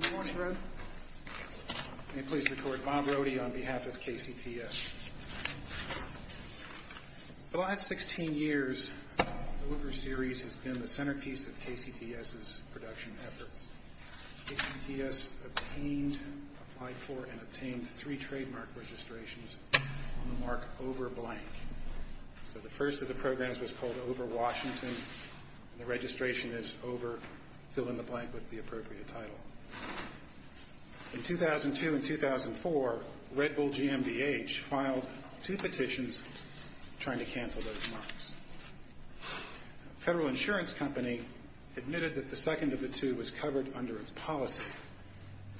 Good morning, Fred. May I please record Bob Rohde on behalf of KCTS. For the last 16 years, the Hoover Series has been the centerpiece of KCTS's production efforts. KCTS obtained, applied for, and obtained three trademark registrations on the mark Over Blank. So the first of the programs was called Over Washington, and the registration is Over Fill-in-the-Blank with the appropriate title. In 2002 and 2004, Red Bull GMBH filed two petitions trying to cancel those marks. Federal Insurance Company admitted that the second of the two was covered under its policy,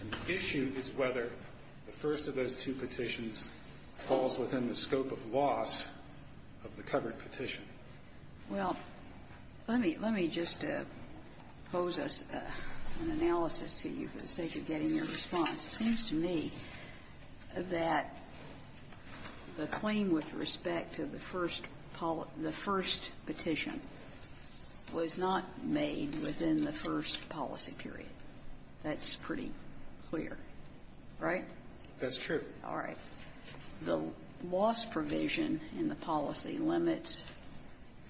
and the issue is whether the first of those two petitions falls within the scope of loss of the covered petition. Well, let me just pose us an analysis to you for the sake of getting your response. It seems to me that the claim with respect to the first petition was not made within the first policy period. That's pretty clear, right? That's true. All right. The loss provision in the policy limits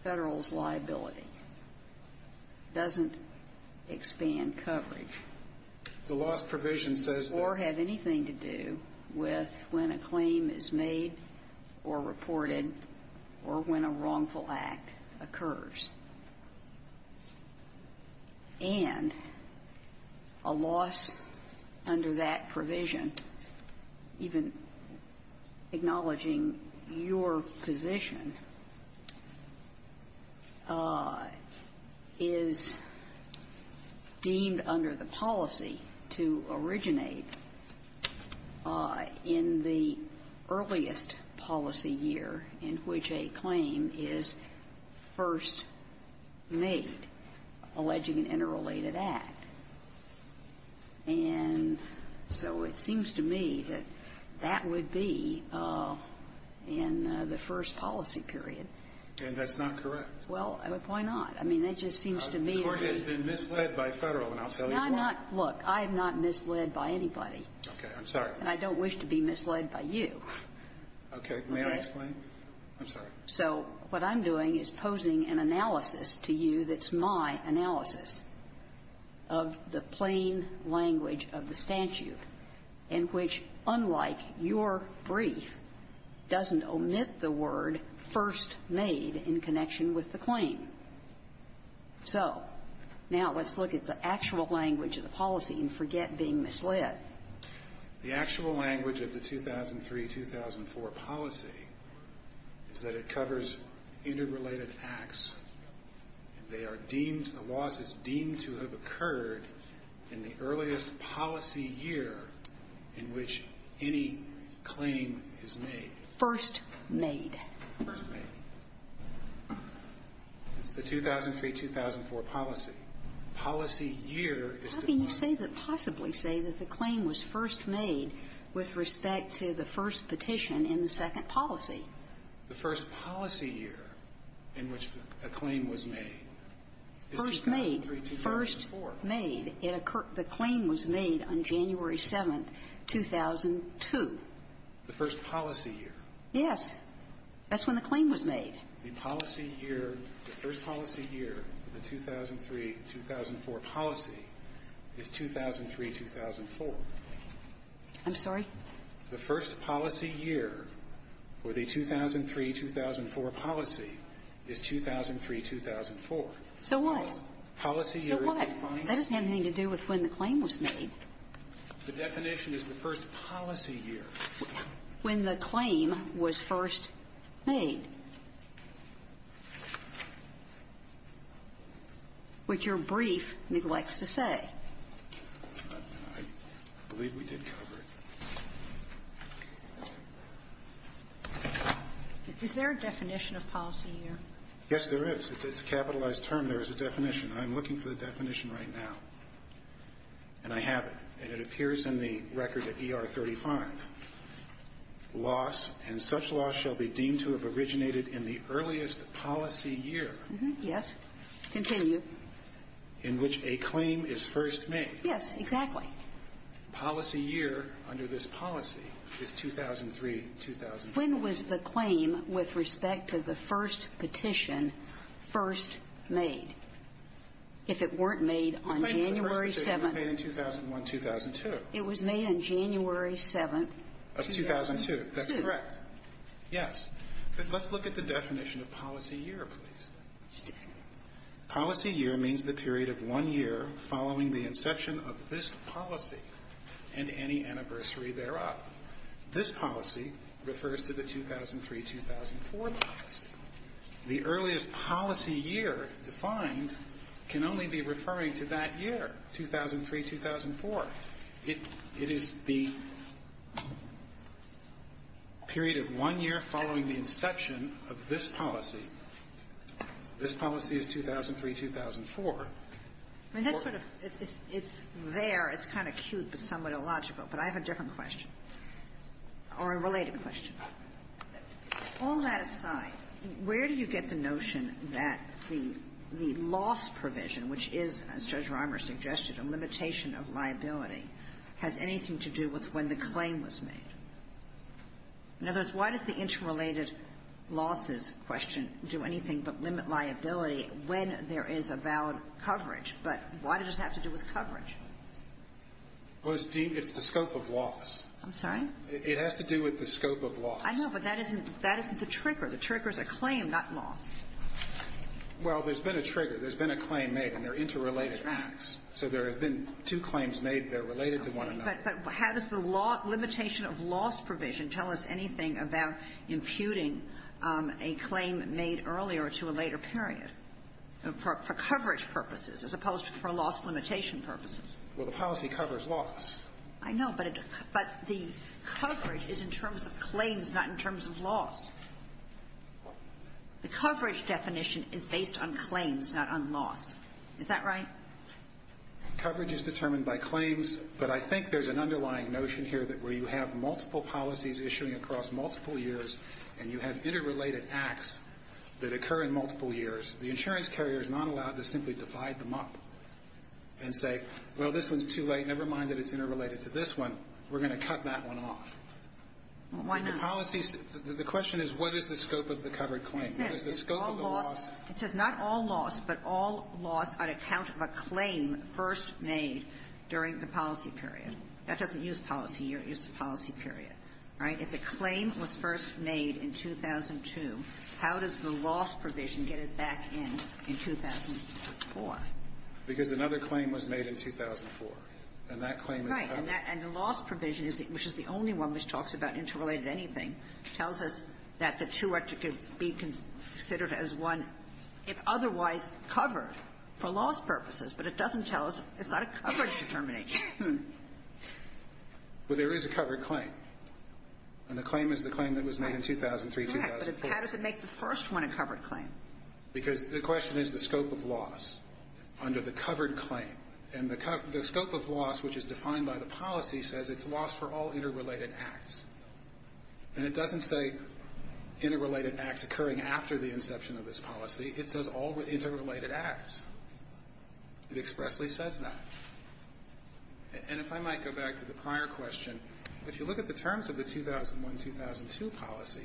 Federal's liability. It doesn't expand coverage. The loss provision says that... Or have anything to do with when a claim is made or reported or when a wrongful act occurs. And a loss under that provision, even acknowledging your position, is deemed under the policy to originate in the earliest policy year in which a claim is first reported or made alleging an interrelated act. And so it seems to me that that would be in the first policy period. And that's not correct. Well, why not? I mean, that just seems to me to be... The Court has been misled by Federal, and I'll tell you why. No, I'm not. Look, I'm not misled by anybody. Okay. I'm sorry. And I don't wish to be misled by you. Okay. May I explain? I'm sorry. So what I'm doing is posing an analysis to you that's my analysis of the plain language of the statute in which, unlike your brief, doesn't omit the word first made in connection with the claim. So now let's look at the actual language of the policy and forget being misled. The actual language of the 2003-2004 policy is that it covers interrelated acts, and they are deemed, the loss is deemed to have occurred in the earliest policy year in which any claim is made. First made. First made. It's the 2003-2004 policy. Policy year is the... How can you possibly say that the claim was first made with respect to the first petition in the second policy? The first policy year in which a claim was made is 2003-2004. First made. First made. It occurred the claim was made on January 7th, 2002. The first policy year. Yes. That's when the claim was made. The policy year, the first policy year for the 2003-2004 policy is 2003-2004. I'm sorry? The first policy year for the 2003-2004 policy is 2003-2004. So what? Policy year is defined... So what? That doesn't have anything to do with when the claim was made. The definition is the first policy year. When the claim was first made. Which your brief neglects to say. I believe we did cover it. Is there a definition of policy year? Yes, there is. It's a capitalized term. There is a definition. I'm looking for the definition right now. And I have it. And it appears in the record at ER 35. Loss and such loss shall be deemed to have originated in the earliest policy year. Yes. Continue. In which a claim is first made. Yes, exactly. Policy year under this policy is 2003-2004. When was the claim with respect to the first petition first made? If it weren't made on January 7th. It wasn't made in 2001-2002. It was made on January 7th. Of 2002. That's correct. Yes. But let's look at the definition of policy year, please. Policy year means the period of one year following the inception of this policy and any anniversary thereof. This policy refers to the 2003-2004 class. The earliest policy year defined can only be referring to that year, 2003-2004. It is the period of one year following the inception of this policy. This policy is 2003-2004. I mean, that's sort of – it's there. It's kind of cute, but somewhat illogical. But I have a different question, or a related question. All that aside, where do you get the notion that the – the loss provision, which is, as Judge Reimer suggested, a limitation of liability, has anything to do with when the claim was made? In other words, why does the interrelated losses question do anything but limit liability when there is a valid coverage, but why does it have to do with coverage? Well, it's the scope of loss. I'm sorry? It has to do with the scope of loss. I know, but that isn't – that isn't the trigger. The trigger is a claim, not loss. Well, there's been a trigger. There's been a claim made, and they're interrelated acts. So there have been two claims made. They're related to one another. Okay. But how does the limitation of loss provision tell us anything about imputing a claim made earlier to a later period for coverage purposes as opposed to for loss limitation purposes? Well, the policy covers loss. I know, but the coverage is in terms of claims, not in terms of loss. The coverage definition is based on claims, not on loss. Is that right? Coverage is determined by claims, but I think there's an underlying notion here that where you have multiple policies issuing across multiple years and you have interrelated acts that occur in multiple years, the insurance carrier is not allowed to simply divide them up and say, well, this one's too late. Never mind that it's interrelated to this one. We're going to cut that one off. Well, why not? The policy – the question is, what is the scope of the covered claim? What is the scope of the loss? It says not all loss, but all loss on account of a claim first made during the policy period. That doesn't use policy. It uses policy period. Right? If a claim was first made in 2002, how does the loss provision get it back in, in 2004? Because another claim was made in 2004, and that claim is covered. Right. And that – and the loss provision, which is the only one which talks about interrelated anything, tells us that the two are to be considered as one if otherwise covered for loss purposes, but it doesn't tell us – it's not a coverage determination. Well, there is a covered claim, and the claim is the claim that was made in 2003, 2004. But how does it make the first one a covered claim? Because the question is the scope of loss under the covered claim. And the scope of loss, which is defined by the policy, says it's loss for all interrelated acts. And it doesn't say interrelated acts occurring after the inception of this policy. It says all interrelated acts. It expressly says that. And if I might go back to the prior question, if you look at the terms of the 2001-2002 policy,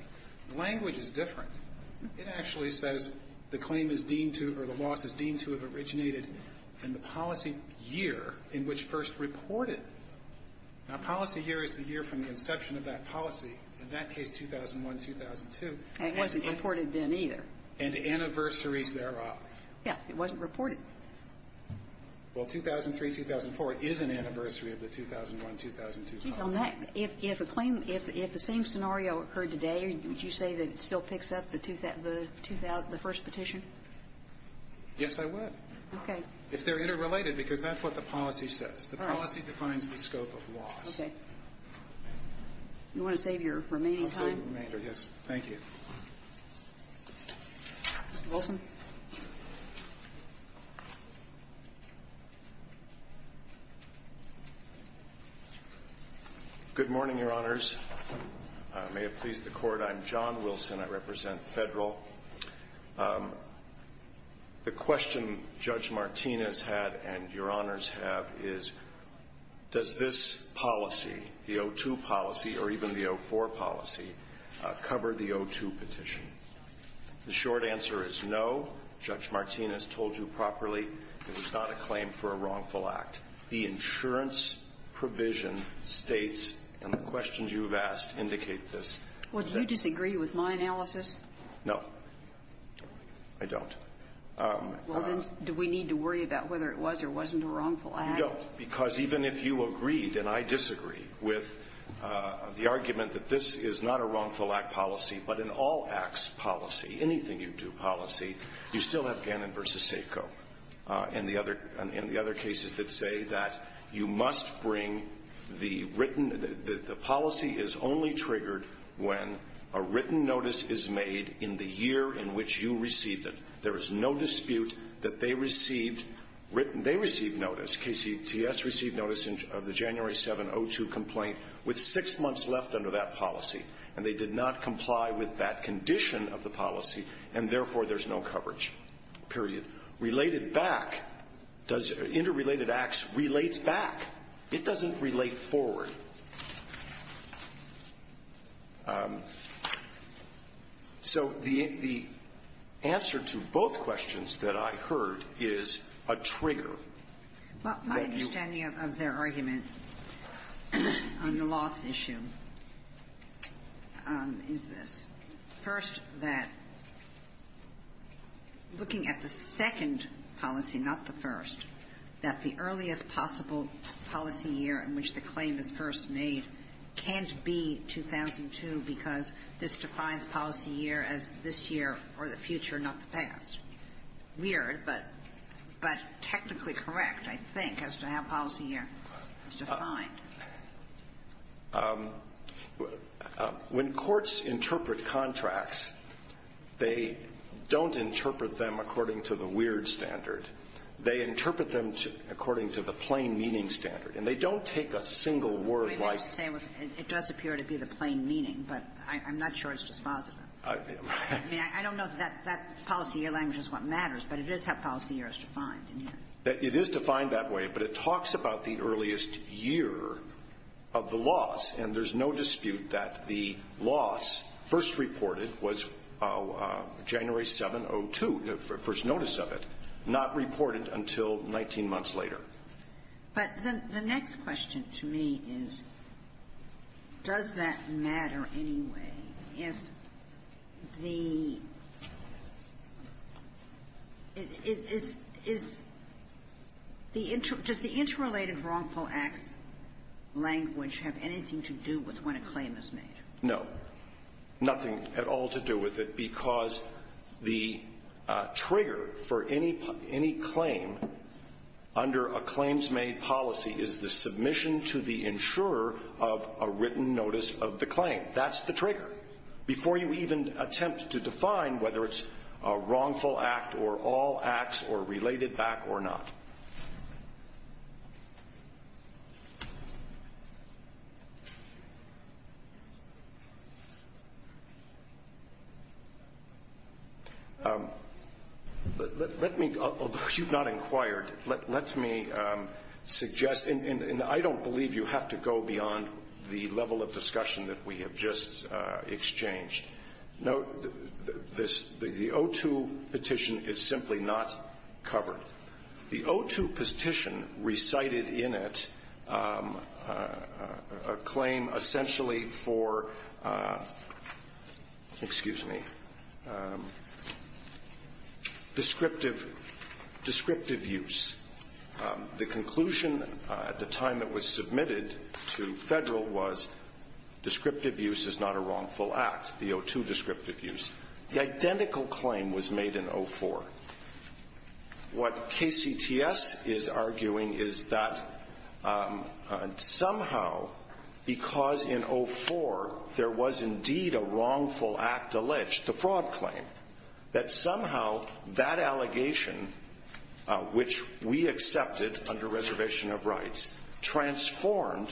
the language is different. It actually says the claim is deemed to – or the loss is deemed to have originated in the policy year in which first reported. Now, policy year is the year from the inception of that policy. In that case, 2001-2002. And it wasn't reported then either. And anniversaries thereof. Yes. It wasn't reported. Well, 2003-2004 is an anniversary of the 2001-2002 policy. If a claim – if the same scenario occurred today, would you say that it still picks up the first petition? Yes, I would. Okay. If they're interrelated, because that's what the policy says. All right. The policy defines the scope of loss. Okay. You want to save your remaining time? I'll save the remainder, yes. Thank you. Mr. Wilson. Good morning, Your Honors. May it please the Court, I'm John Wilson. I represent Federal. The question Judge Martinez had and Your Honors have is, does this policy, the 02 policy, or even the 04 policy, cover the 02 petition? The short answer is no. Judge Martinez told you properly it was not a claim for a wrongful act. The insurance provision states, and the questions you have asked indicate this. Well, do you disagree with my analysis? No, I don't. Well, then, do we need to worry about whether it was or wasn't a wrongful act? No, because even if you agreed, and I disagree, with the argument that this is not a wrongful act policy, but an all-acts policy, anything-you-do policy, you still have Gannon v. Seiko and the other cases that say that you must bring the written, the policy is only triggered when a written notice is made in the year in which you received it. There is no dispute that they received written, they received notice, KCTS received notice of the January 7, 02 complaint with six months left under that policy, and they did not comply with that condition of the policy, and therefore, there's no coverage, period. Related back, does interrelated acts relates back? It doesn't relate forward. So the answer to both questions that I heard is a trigger. Well, my understanding of their argument on the loss issue is this. First, that looking at the second policy, not the first, that the earliest possible policy year in which the claim is first made can't be 2002 because this defines policy year as this year or the future, not the past. Weird, but technically correct, I think, as to how policy year is defined. When courts interpret contracts, they don't interpret them according to the weird standard. They interpret them according to the plain meaning standard, and they don't take a single word like that. It does appear to be the plain meaning, but I'm not sure it's just positive. I mean, I don't know if that policy year language is what matters, but it is how policy year is defined. It is defined that way, but it talks about the earliest year of the loss, and there's no dispute that the loss first reported was January 7, 02, the first notice of it, not reported until 19 months later. But the next question to me is, does that matter anyway if the – does the interrelated wrongful acts language have anything to do with when a claim is made? No. Nothing at all to do with it because the trigger for any claim under a claims made policy is the submission to the insurer of a written notice of the claim. That's the trigger before you even attempt to define whether it's a wrongful act or all acts or related back or not. Let me, although you've not inquired, let me suggest, and I don't believe you have to go beyond the level of discussion that we have just exchanged. Note this, the 02 petition is simply not covered. The 02 petition recited in it a claim essentially for, excuse me, descriptive use. The conclusion at the time it was submitted to Federal was descriptive use is not a wrongful act, the 02 descriptive use. The identical claim was made in 04. What KCTS is arguing is that somehow, because in 04 there was indeed a wrongful act alleged, the fraud claim, that somehow that allegation, which we accepted under reservation of rights, transformed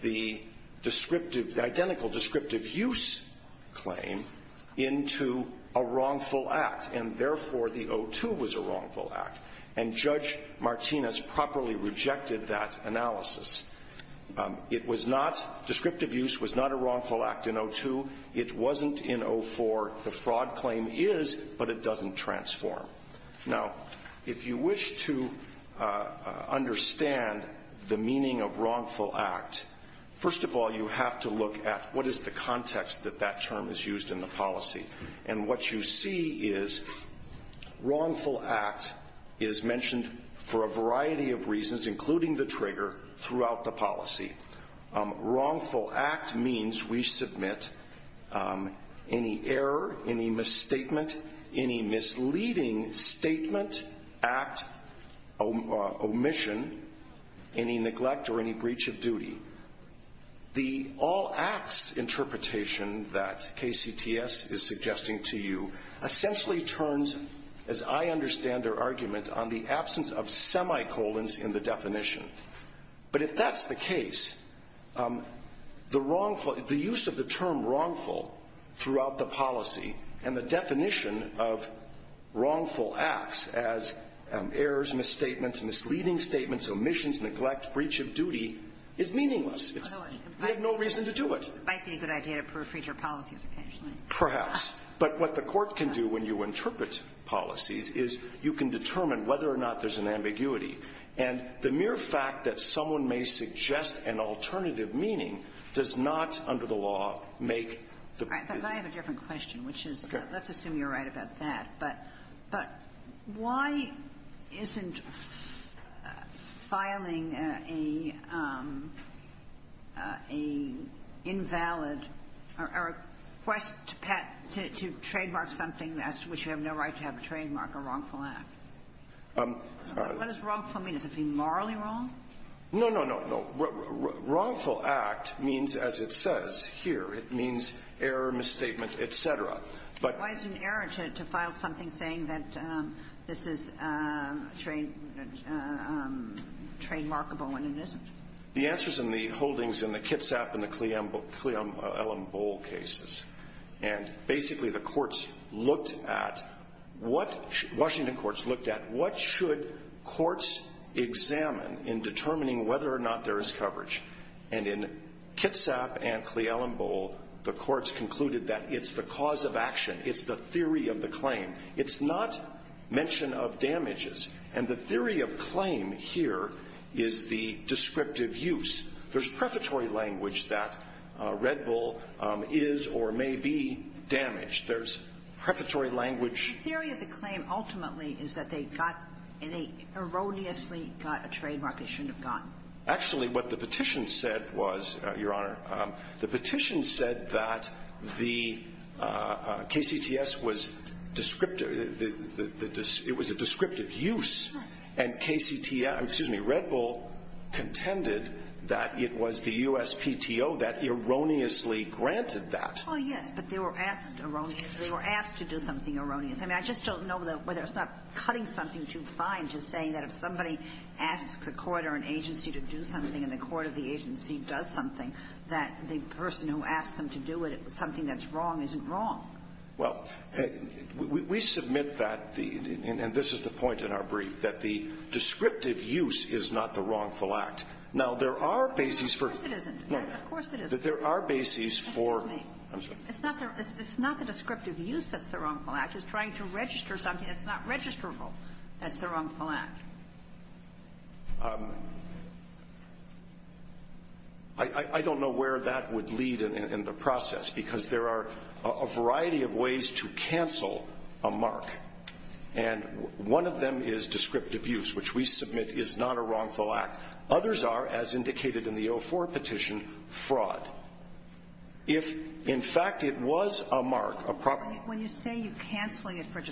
the descriptive, the identical descriptive use claim into a wrongful act. And therefore, the 02 was a wrongful act. And Judge Martinez properly rejected that analysis. It was not, descriptive use was not a wrongful act in 02. It wasn't in 04. The fraud claim is, but it doesn't transform. Now, if you wish to understand the meaning of wrongful act, first of all, you have to look at what is the context that that term is used in the policy. And what you see is wrongful act is mentioned for a variety of reasons, including the trigger, throughout the policy. Wrongful act means we submit any error, any misstatement, any misleading statement, act, omission, any neglect or any breach of duty. The all acts interpretation that KCTS is suggesting to you essentially turns, as I understand their argument, on the absence of semicolons in the definition. But if that's the case, the wrongful, the use of the term wrongful throughout the policy and the definition of wrongful acts as errors, misstatements, misleading statements, omissions, neglect, breach of duty is meaningless. We have no reason to do it. It might be a good idea to proofread your policies occasionally. Perhaps. But what the court can do when you interpret policies is you can determine whether or not there's an ambiguity. And the mere fact that someone may suggest an alternative meaning does not, under the law, make the difference. But I have a different question, which is, let's assume you're right about that, but why isn't filing a invalid or a request to trademark something which you have no right to have trademarked a wrongful act? What does wrongful mean? Is it being morally wrong? No, no, no, no. Wrongful act means, as it says here, it means error, misstatement, et cetera. But why is it an error to file something saying that this is trademarkable when it isn't? The answer is in the holdings in the Kitsap and the Cleombole cases. And basically, the courts looked at what — Washington courts looked at what should courts examine in determining whether or not there is coverage. And in Kitsap and Cleombole, the courts concluded that it's the cause of action. It's the theory of the claim. It's not mention of damages. And the theory of claim here is the descriptive use. There's prefatory language that Red Bull is or may be damaged. There's prefatory language — The theory of the claim ultimately is that they got — and they erroneously got a trademark they shouldn't have gotten. Actually, what the petition said was, Your Honor, the petition said that the KCTS was descriptive — it was a descriptive use. Right. And KCTS — excuse me, Red Bull contended that it was the USPTO that erroneously granted that. Well, yes, but they were asked erroneously. They were asked to do something erroneous. I mean, I just don't know whether it's not cutting something too fine to say that if somebody asks a court or an agency to do something and the court or the agency does something, that the person who asked them to do it, something that's wrong, isn't wrong. Well, we submit that the — and this is the point in our brief, that the descriptive use is not the wrongful act. Now, there are bases for — Of course it isn't. No. Of course it isn't. There are bases for — Excuse me. I'm sorry. It's not the descriptive use that's the wrongful act. It's trying to register something that's not registrable. That's the wrongful act. I don't know where that would lead in the process, because there are a variety of ways to cancel a mark, and one of them is descriptive use, which we submit is not a wrongful act. Others are, as indicated in the 04 petition, fraud. If, in fact, it was a mark, a proper mark — You're not cancelling it because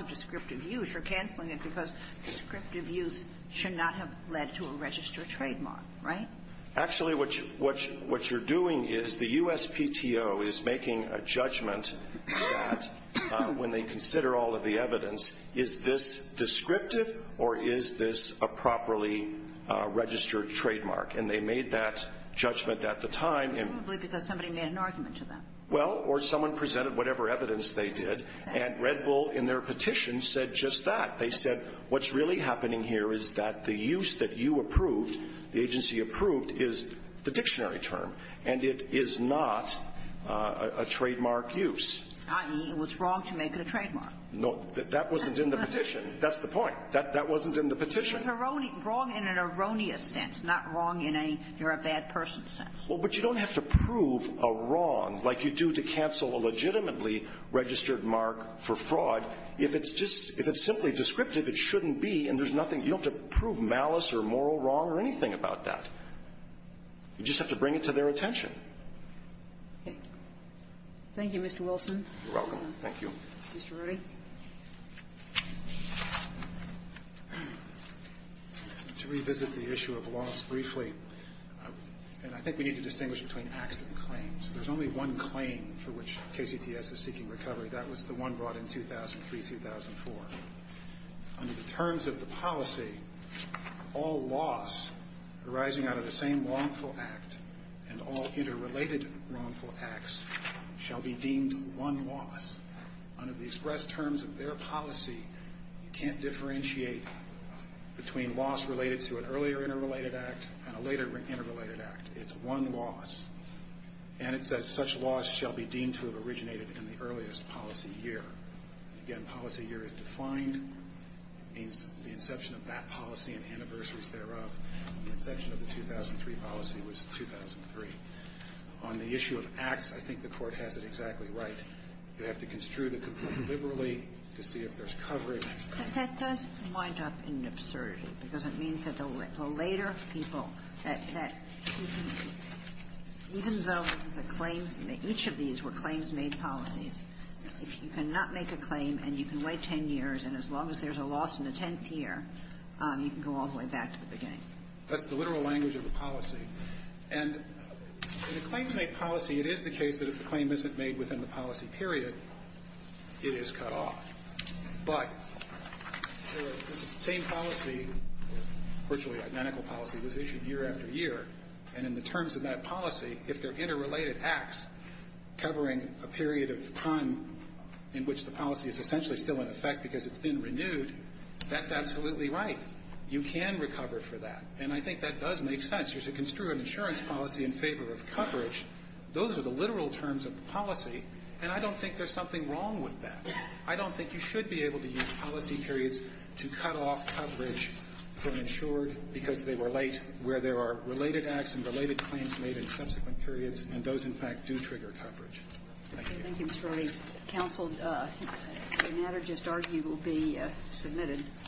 of descriptive use. You're cancelling it because descriptive use should not have led to a registered trademark, right? Actually, what you're doing is the USPTO is making a judgment that, when they consider all of the evidence, is this descriptive or is this a properly registered trademark? And they made that judgment at the time. Probably because somebody made an argument to them. Well, or someone presented whatever evidence they did, and Red Bull in their petition said just that. They said what's really happening here is that the use that you approved, the agency approved, is the dictionary term, and it is not a trademark use. I.e., it was wrong to make it a trademark. No. That wasn't in the petition. That's the point. That wasn't in the petition. It was wrong in an erroneous sense, not wrong in a you're a bad person sense. Well, but you don't have to prove a wrong like you do to cancel a legitimately registered mark for fraud if it's just – if it's simply descriptive, it shouldn't be, and there's nothing – you don't have to prove malice or moral wrong or anything about that. You just have to bring it to their attention. Thank you, Mr. Wilson. You're welcome. Thank you. Mr. Rody. To revisit the issue of loss briefly, and I think we need to distinguish between acts and claims. There's only one claim for which KCTS is seeking recovery. That was the one brought in 2003-2004. Under the terms of the policy, all loss arising out of the same wrongful act and all interrelated wrongful acts shall be deemed one loss under the policy. So if you express terms of their policy, you can't differentiate between loss related to an earlier interrelated act and a later interrelated act. It's one loss. And it says such loss shall be deemed to have originated in the earliest policy year. Again, policy year is defined. It means the inception of that policy and anniversaries thereof. The inception of the 2003 policy was 2003. On the issue of acts, I think the Court has it exactly right. You have to construe the complaint liberally to see if there's coverage. But that does wind up in an absurdity, because it means that the later people, that even though the claims, each of these were claims-made policies, you cannot make a claim and you can wait ten years, and as long as there's a loss in the tenth year, you can go all the way back to the beginning. That's the literal language of the policy. And in the claims-made policy, it is the case that if the claim isn't made within the policy period, it is cut off. But the same policy, virtually identical policy, was issued year after year, and in the terms of that policy, if they're interrelated acts covering a period of time in which the policy is essentially still in effect because it's been renewed, that's absolutely right. You can recover for that. And I think that does make sense. You're to construe an insurance policy in favor of coverage. Those are the literal terms of the policy, and I don't think there's something wrong with that. I don't think you should be able to use policy periods to cut off coverage from insured because they relate where there are related acts and related claims made in subsequent periods, and those, in fact, do trigger coverage. Thank you. Thank you, Mr. Early. Counsel, the matter just argued will be submitted.